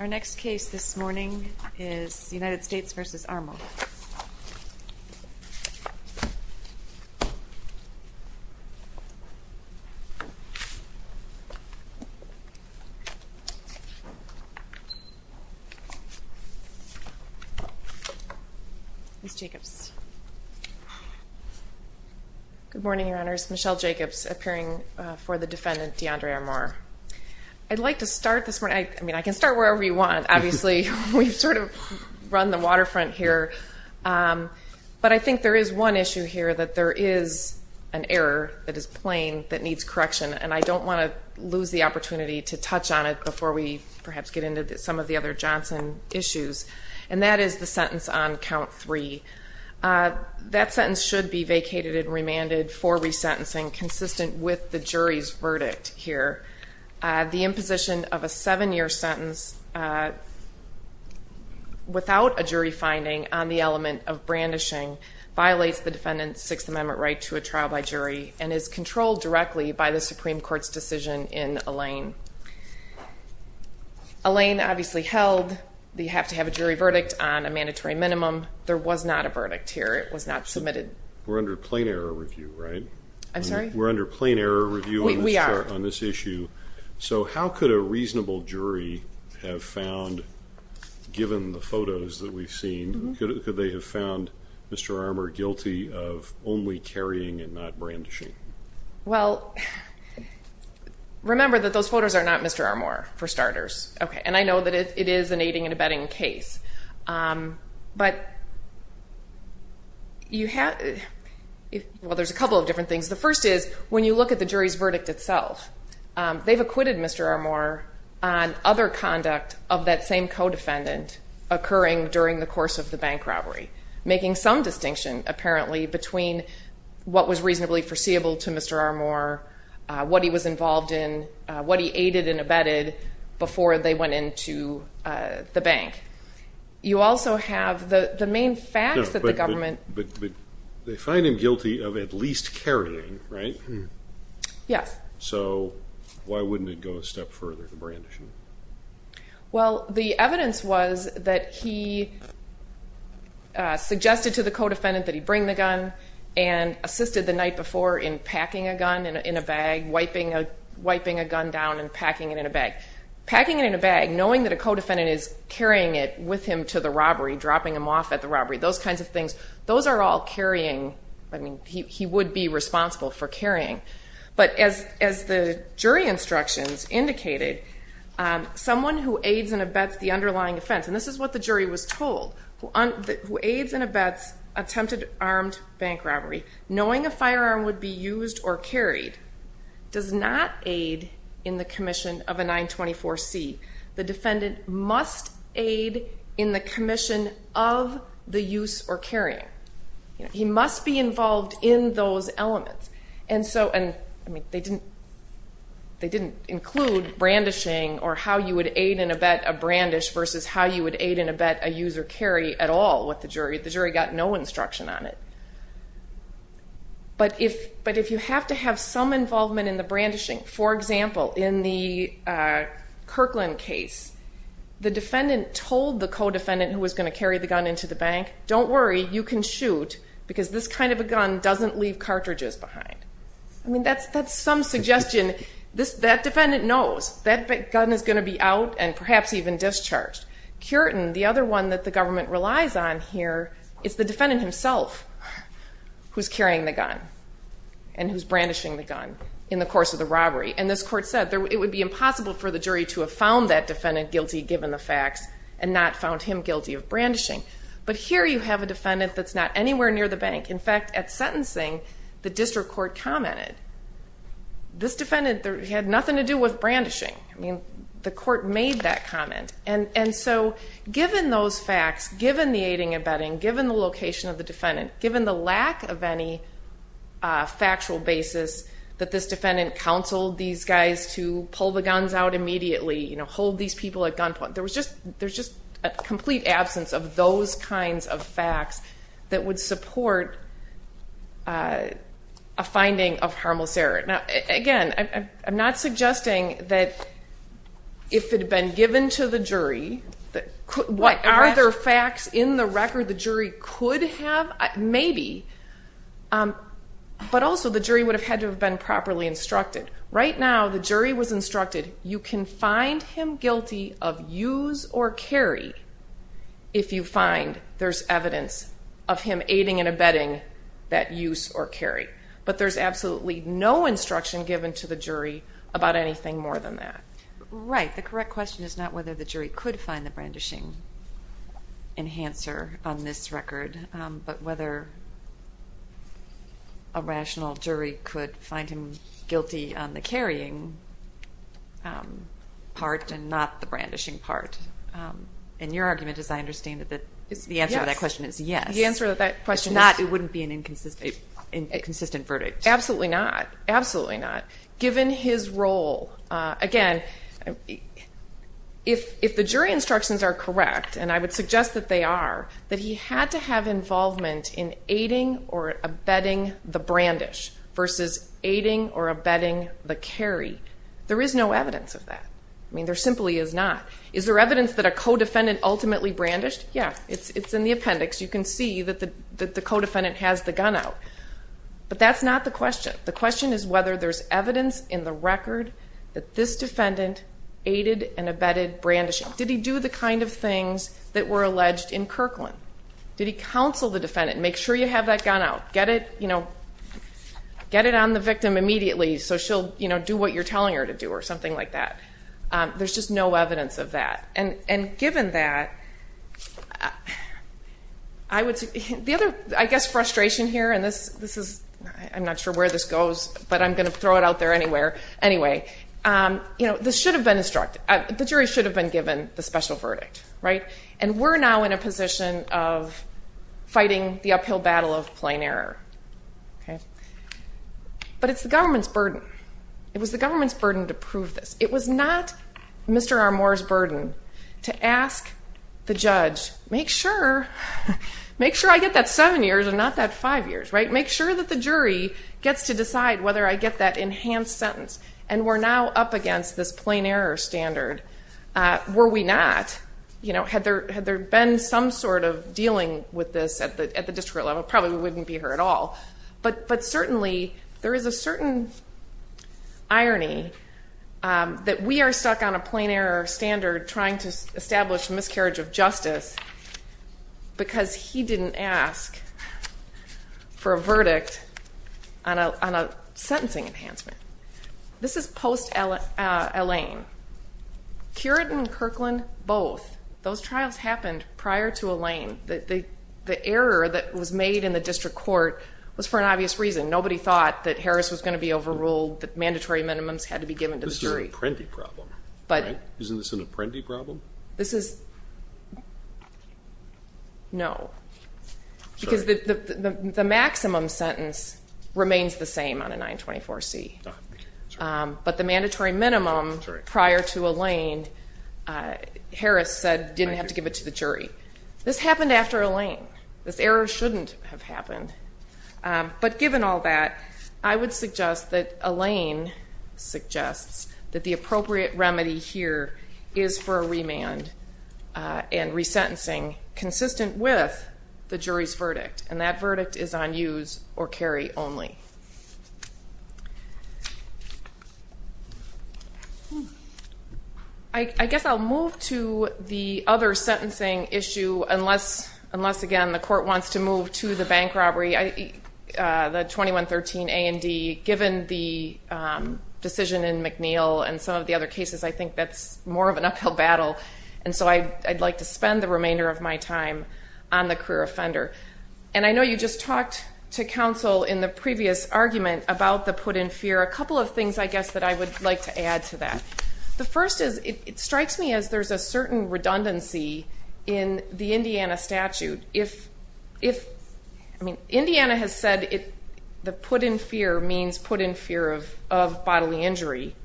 Our next case this morning is United States v. Armour. Ms. Jacobs. Good morning, Your Honors. Michelle Jacobs, appearing for the defendant, Deandre Armour. I'd like to start this morning, I mean, I can start wherever you want. Obviously, we've sort of run the waterfront here. But I think there is one issue here that there is an error that is plain that needs correction. And I don't want to lose the opportunity to touch on it before we perhaps get into some of the other Johnson issues. And that is the sentence on count three. That sentence should be vacated and remanded for resentencing consistent with the jury's verdict here. The imposition of a seven-year sentence without a jury finding on the element of brandishing violates the defendant's Sixth Amendment right to a trial by jury and is controlled directly by the Supreme Court's decision in Alain. Alain obviously held that you have to have a jury verdict on a mandatory minimum. There was not a verdict here. It was not submitted. We're under plain error review, right? I'm sorry? We're under plain error review on this issue. We are. So how could a reasonable jury have found, given the photos that we've seen, could they have found Mr. Armour guilty of only carrying and not brandishing? Well, remember that those photos are not Mr. Armour, for starters. And I know that it is an aiding and abetting case. But you have – well, there's a couple of different things. The first is when you look at the jury's verdict itself, they've acquitted Mr. Armour on other conduct of that same co-defendant occurring during the course of the bank robbery, making some distinction, apparently, between what was reasonably foreseeable to Mr. Armour, what he was involved in, what he aided and abetted before they went into the bank. You also have the main facts that the government – But they find him guilty of at least carrying, right? Yes. So why wouldn't it go a step further, the brandishing? Well, the evidence was that he suggested to the co-defendant that he bring the gun and assisted the night before in packing a gun in a bag, wiping a gun down and packing it in a bag. Packing it in a bag, knowing that a co-defendant is carrying it with him to the robbery, dropping him off at the robbery, those kinds of things, those are all carrying – I mean, he would be responsible for carrying. But as the jury instructions indicated, someone who aids and abets the underlying offense – and this is what the jury was told – who aids and abets attempted armed bank robbery, knowing a firearm would be used or carried, does not aid in the commission of a 924C. The defendant must aid in the commission of the use or carrying. He must be involved in those elements. And so – I mean, they didn't include brandishing or how you would aid and abet a brandish versus how you would aid and abet a use or carry at all. The jury got no instruction on it. But if you have to have some involvement in the brandishing – for example, in the Kirkland case, the defendant told the co-defendant who was going to carry the gun into the bank, don't worry, you can shoot because this kind of a gun doesn't leave cartridges behind. I mean, that's some suggestion. That defendant knows that gun is going to be out and perhaps even discharged. Cureton, the other one that the government relies on here, is the defendant himself who's carrying the gun and who's brandishing the gun in the course of the robbery. And this court said it would be impossible for the jury to have found that defendant guilty given the facts and not found him guilty of brandishing. But here you have a defendant that's not anywhere near the bank. In fact, at sentencing, the district court commented this defendant had nothing to do with brandishing. I mean, the court made that comment. And so given those facts, given the aiding and abetting, given the location of the defendant, given the lack of any factual basis that this defendant counseled these guys to pull the guns out immediately, hold these people at gunpoint, there was just a complete absence of those kinds of facts that would support a finding of harmless error. Now, again, I'm not suggesting that if it had been given to the jury, what other facts in the record the jury could have? Maybe. But also the jury would have had to have been properly instructed. Right now the jury was instructed you can find him guilty of use or carry if you find there's evidence of him aiding and abetting that use or carry. But there's absolutely no instruction given to the jury about anything more than that. Right. The correct question is not whether the jury could find the brandishing enhancer on this record, but whether a rational jury could find him guilty on the carrying part and not the brandishing part. And your argument, as I understand it, that the answer to that question is yes. The answer to that question is not it wouldn't be an inconsistent verdict. Absolutely not. Absolutely not. Given his role, again, if the jury instructions are correct, and I would suggest that they are, that he had to have involvement in aiding or abetting the brandish versus aiding or abetting the carry. There is no evidence of that. I mean, there simply is not. Is there evidence that a co-defendant ultimately brandished? Yes. It's in the appendix. You can see that the co-defendant has the gun out. But that's not the question. The question is whether there's evidence in the record that this defendant aided and abetted brandishing. Did he do the kind of things that were alleged in Kirkland? Did he counsel the defendant? Make sure you have that gun out. Get it on the victim immediately so she'll do what you're telling her to do or something like that. There's just no evidence of that. And given that, I guess frustration here, and this is, I'm not sure where this goes, but I'm going to throw it out there anywhere. Anyway, this should have been instructed. The jury should have been given the special verdict, right? And we're now in a position of fighting the uphill battle of plain error. But it's the government's burden. It was the government's burden to prove this. It was not Mr. Armour's burden to ask the judge, make sure I get that seven years and not that five years, right? Make sure that the jury gets to decide whether I get that enhanced sentence. And we're now up against this plain error standard. Were we not, had there been some sort of dealing with this at the district level, probably we wouldn't be here at all. But certainly there is a certain irony that we are stuck on a plain error standard trying to establish miscarriage of justice because he didn't ask for a verdict on a sentencing enhancement. This is post-Elaine. Curit and Kirkland, both, those trials happened prior to Elaine. The error that was made in the district court was for an obvious reason. Nobody thought that Harris was going to be overruled, that mandatory minimums had to be given to the jury. This is an apprenti problem, right? Isn't this an apprenti problem? This is no. Because the maximum sentence remains the same on a 924C. But the mandatory minimum prior to Elaine, Harris said, didn't have to give it to the jury. This happened after Elaine. This error shouldn't have happened. But given all that, I would suggest that Elaine suggests that the appropriate remedy here is for a remand and resentencing consistent with the jury's verdict, and that verdict is on use or carry only. Okay. I guess I'll move to the other sentencing issue, unless, again, the court wants to move to the bank robbery, the 2113A and D. Given the decision in McNeil and some of the other cases, I think that's more of an uphill battle. And so I'd like to spend the remainder of my time on the career offender. And I know you just talked to counsel in the previous argument about the put in fear. A couple of things, I guess, that I would like to add to that. The first is it strikes me as there's a certain redundancy in the Indiana statute. I mean, Indiana has said the put in fear means put in fear of bodily injury.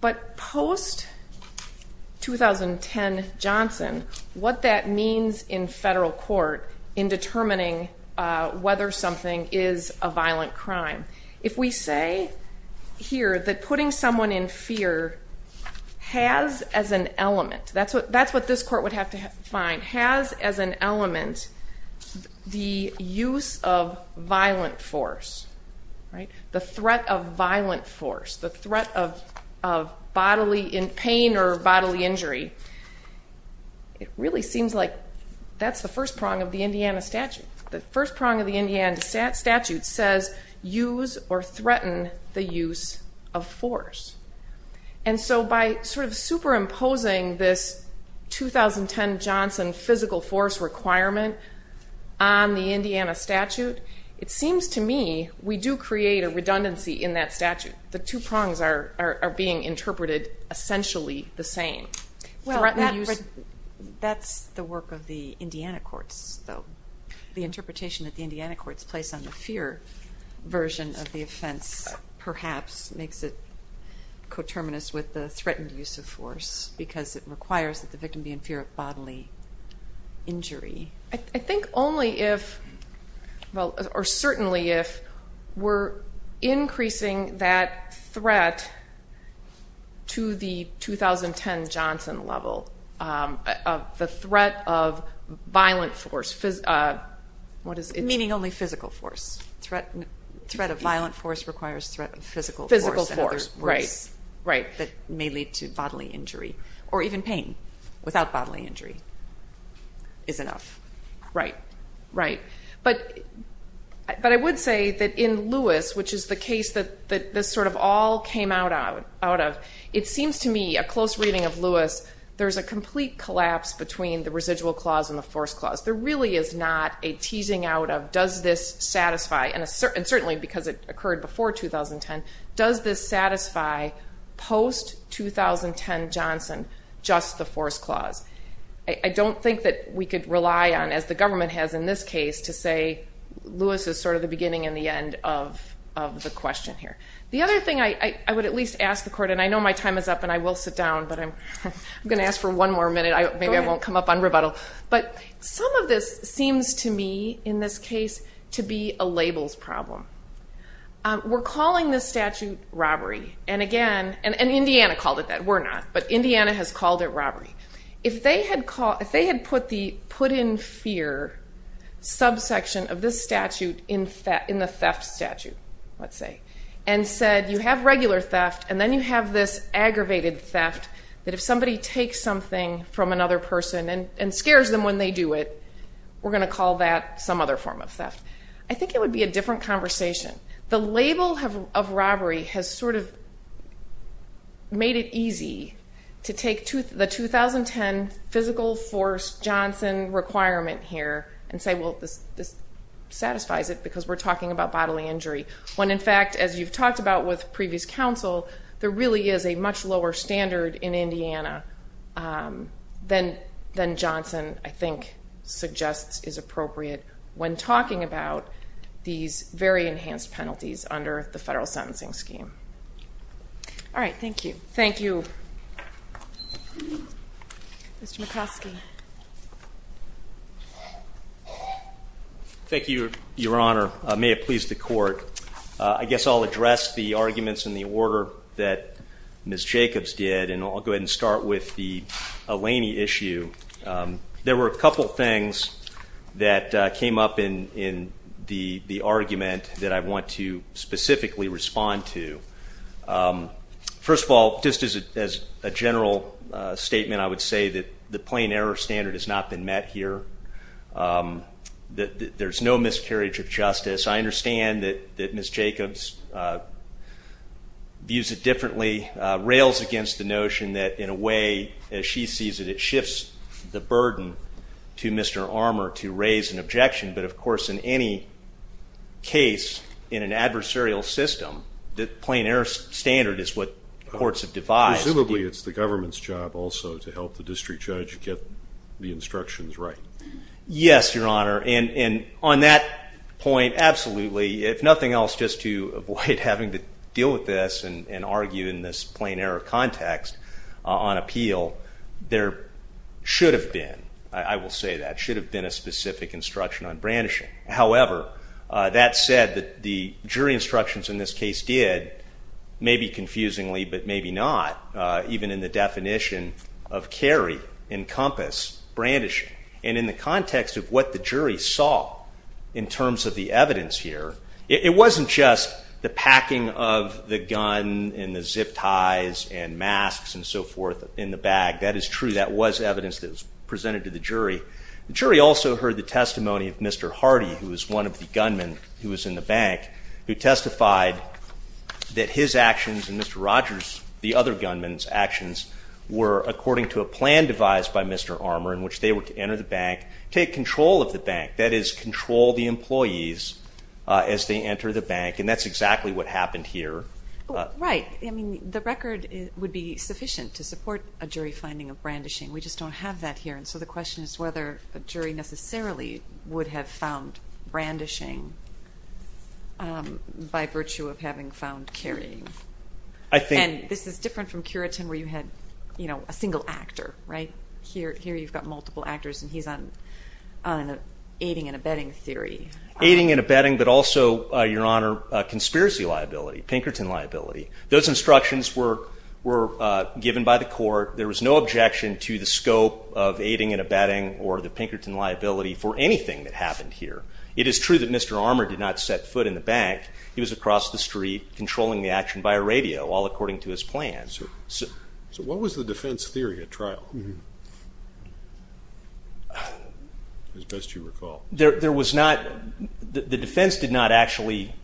But post-2010 Johnson, what that means in federal court in determining whether something is a violent crime, if we say here that putting someone in fear has as an element, that's what this court would have to find, has as an element the use of violent force, the threat of violent force, the threat of pain or bodily injury. It really seems like that's the first prong of the Indiana statute. The first prong of the Indiana statute says use or threaten the use of force. And so by sort of superimposing this 2010 Johnson physical force requirement on the Indiana statute, it seems to me we do create a redundancy in that statute. The two prongs are being interpreted essentially the same. Well, that's the work of the Indiana courts, though. The interpretation that the Indiana courts place on the fear version of the offense perhaps makes it coterminous with the threatened use of force because it requires that the victim be in fear of bodily injury. I think only if or certainly if we're increasing that threat to the 2010 Johnson level, the threat of violent force, what is it? Meaning only physical force. Threat of violent force requires threat of physical force. Physical force, right, right. Or even pain without bodily injury is enough. Right, right. But I would say that in Lewis, which is the case that this sort of all came out of, it seems to me, a close reading of Lewis, there's a complete collapse between the residual clause and the force clause. There really is not a teasing out of does this satisfy, and certainly because it occurred before 2010, does this satisfy post-2010 Johnson just the force clause? I don't think that we could rely on, as the government has in this case, to say Lewis is sort of the beginning and the end of the question here. The other thing I would at least ask the court, and I know my time is up and I will sit down, but I'm going to ask for one more minute. Maybe I won't come up on rebuttal. But some of this seems to me, in this case, to be a labels problem. We're calling this statute robbery, and again, and Indiana called it that. We're not, but Indiana has called it robbery. If they had put in fear subsection of this statute in the theft statute, let's say, and said you have regular theft and then you have this aggravated theft that if somebody takes something from another person and scares them when they do it, we're going to call that some other form of theft. I think it would be a different conversation. The label of robbery has sort of made it easy to take the 2010 physical force Johnson requirement here and say, well, this satisfies it because we're talking about bodily injury, when in fact, as you've talked about with previous counsel, there really is a much lower standard in Indiana than Johnson, I think, suggests is appropriate when talking about these very enhanced penalties under the federal sentencing scheme. All right. Thank you. Thank you. Mr. McCoskey. Thank you, Your Honor. May it please the Court. I guess I'll address the arguments in the order that Ms. Jacobs did, and I'll go ahead and start with the Eleni issue. There were a couple things that came up in the argument that I want to specifically respond to. First of all, just as a general statement, I would say that the plain error standard has not been met here. There's no miscarriage of justice. I understand that Ms. Jacobs views it differently, rails against the notion that, in a way, as she sees it, it shifts the burden to Mr. Armour to raise an objection. But, of course, in any case in an adversarial system, the plain error standard is what courts have devised. Presumably it's the government's job also to help the district judge get the instructions right. Yes, Your Honor. And on that point, absolutely, if nothing else, just to avoid having to deal with this and argue in this plain error context on appeal, there should have been, I will say that, should have been a specific instruction on brandishing. However, that said, the jury instructions in this case did, maybe confusingly but maybe not, even in the definition of carry, encompass, brandishing. And in the context of what the jury saw in terms of the evidence here, it wasn't just the packing of the gun and the zip ties and masks and so forth in the bag. That is true. That was evidence that was presented to the jury. The jury also heard the testimony of Mr. Hardy, who was one of the gunmen who was in the bank, who testified that his actions and Mr. Rogers, the other gunman's actions, were according to a plan devised by Mr. Armour in which they were to enter the bank, take control of the bank, that is, control the employees as they enter the bank. And that's exactly what happened here. Right. I mean, the record would be sufficient to support a jury finding of brandishing. We just don't have that here. And so the question is whether a jury necessarily would have found brandishing by virtue of having found carrying. And this is different from Curitin where you had a single actor, right? Here you've got multiple actors, and he's on an aiding and abetting theory. Aiding and abetting, but also, Your Honor, conspiracy liability, Pinkerton liability. Those instructions were given by the court. There was no objection to the scope of aiding and abetting or the Pinkerton liability for anything that happened here. It is true that Mr. Armour did not set foot in the bank. He was across the street controlling the action by radio, all according to his plan. So what was the defense theory at trial, as best you recall? There was not the defense did not actually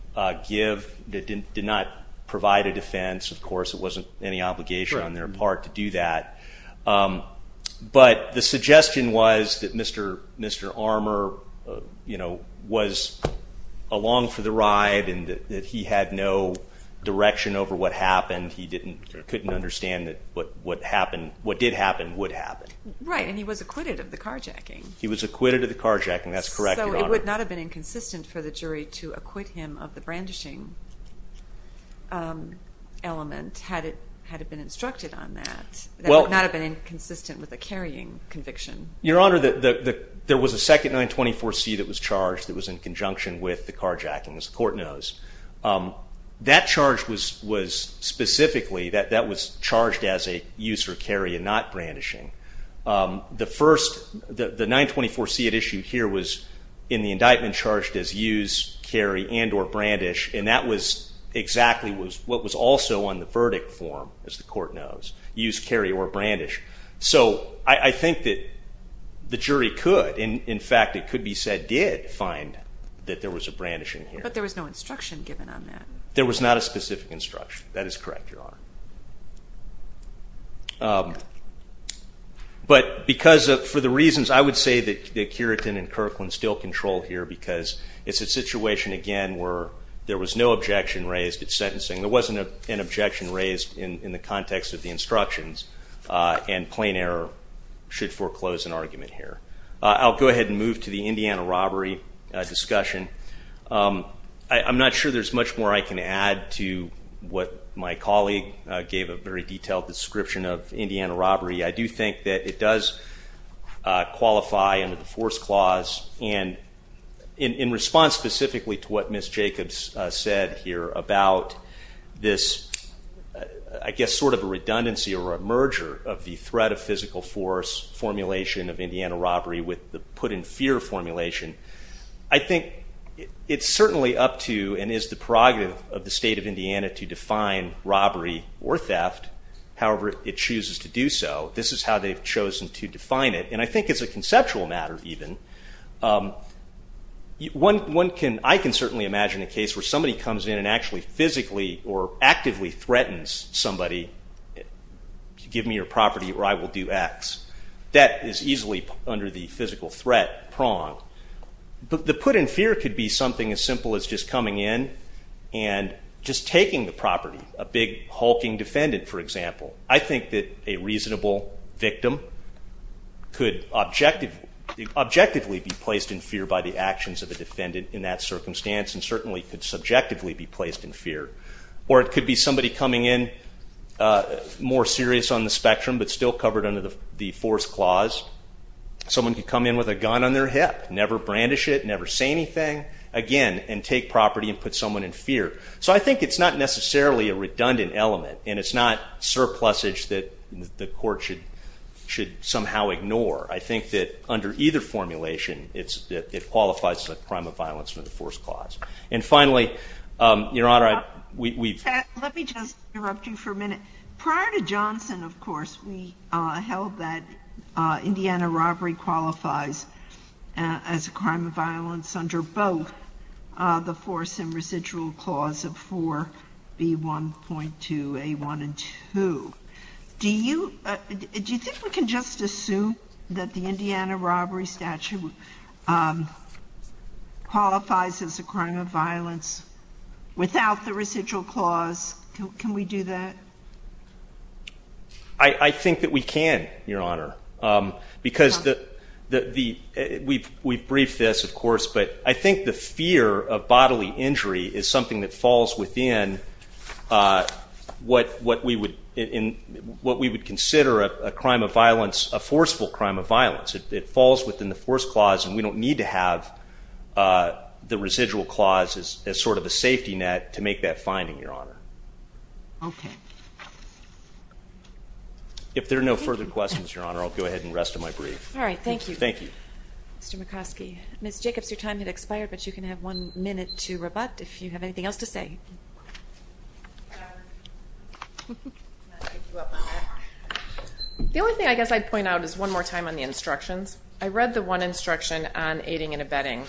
give, did not provide a defense. Of course, it wasn't any obligation on their part to do that. But the suggestion was that Mr. Armour was along for the ride and that he had no direction over what happened. He couldn't understand that what did happen would happen. Right, and he was acquitted of the carjacking. He was acquitted of the carjacking. That's correct, Your Honor. So it would not have been inconsistent for the jury to acquit him of the brandishing element had it been instructed on that. It would not have been inconsistent with the carrying conviction. Your Honor, there was a second 924C that was charged that was in conjunction with the carjacking, as the court knows. That charge was specifically, that was charged as a use or carry and not brandishing. The first, the 924C at issue here was in the indictment charged as use, carry and or brandish. And that was exactly what was also on the verdict form, as the court knows. Use, carry or brandish. So I think that the jury could, in fact, it could be said did find that there was a brandishing here. But there was no instruction given on that. There was not a specific instruction. That is correct, Your Honor. But because of, for the reasons, I would say that Curitin and Kirkland still control here because it's a situation, again, where there was no objection raised at sentencing. There wasn't an objection raised in the context of the instructions. And plain error should foreclose an argument here. I'll go ahead and move to the Indiana robbery discussion. I'm not sure there's much more I can add to what my colleague gave a very detailed description of Indiana robbery. I do think that it does qualify under the force clause. And in response specifically to what Ms. Jacobs said here about this, I guess, sort of a redundancy or a merger of the threat of physical force formulation of Indiana robbery with the put in fear formulation, I think it's certainly up to and is the prerogative of the state of Indiana to define robbery or theft, however it chooses to do so. This is how they've chosen to define it. And I think it's a conceptual matter even. I can certainly imagine a case where somebody comes in and actually physically or actively threatens somebody to give me your property or I will do X. That is easily under the physical threat prong. The put in fear could be something as simple as just coming in and just taking the property, a big hulking defendant, for example. I think that a reasonable victim could objectively be placed in fear by the actions of a defendant in that circumstance and certainly could subjectively be placed in fear. Or it could be somebody coming in more serious on the spectrum but still covered under the force clause. Someone could come in with a gun on their hip, never brandish it, never say anything, again, and take property and put someone in fear. So I think it's not necessarily a redundant element and it's not surplusage that the court should somehow ignore. I think that under either formulation it qualifies as a crime of violence under the force clause. And finally, Your Honor, we've- Let me just interrupt you for a minute. Prior to Johnson, of course, we held that Indiana robbery qualifies as a crime of violence under both the force and residual clause of 4B1.2A1 and 2. Do you think we can just assume that the Indiana robbery statute qualifies as a crime of violence without the residual clause? Can we do that? I think that we can, Your Honor. Because we've briefed this, of course, but I think the fear of bodily injury is something that falls within what we would consider a crime of violence, a forceful crime of violence. It falls within the force clause and we don't need to have the residual clause as sort of a safety net to make that finding, Your Honor. Okay. If there are no further questions, Your Honor, I'll go ahead and rest on my brief. All right. Thank you. Thank you. Mr. Mikoski. Ms. Jacobs, your time has expired, but you can have one minute to rebut if you have anything else to say. The only thing I guess I'd point out is one more time on the instructions. I read the one instruction on aiding and abetting.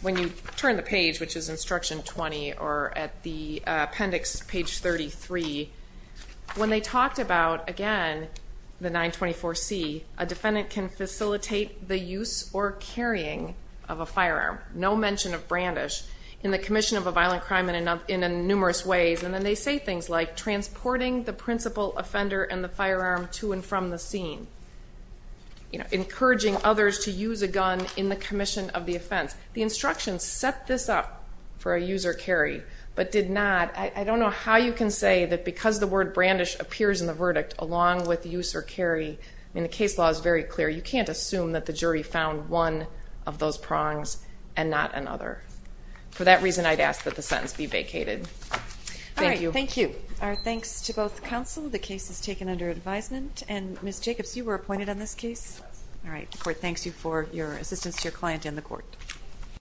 When you turn the page, which is instruction 20 or at the appendix, page 33, when they talked about, again, the 924C, a defendant can facilitate the use or carrying of a firearm, no mention of brandish in the commission of a violent crime in numerous ways, and then they say things like transporting the principal offender and the firearm to and from the scene, encouraging others to use a gun in the commission of the offense. The instructions set this up for a use or carry but did not. I don't know how you can say that because the word brandish appears in the verdict, along with use or carry, and the case law is very clear, you can't assume that the jury found one of those prongs and not another. For that reason, I'd ask that the sentence be vacated. Thank you. All right. Thank you. Our thanks to both counsel. The case is taken under advisement. And Ms. Jacobs, you were appointed on this case. All right. The court thanks you for your assistance to your client and the court.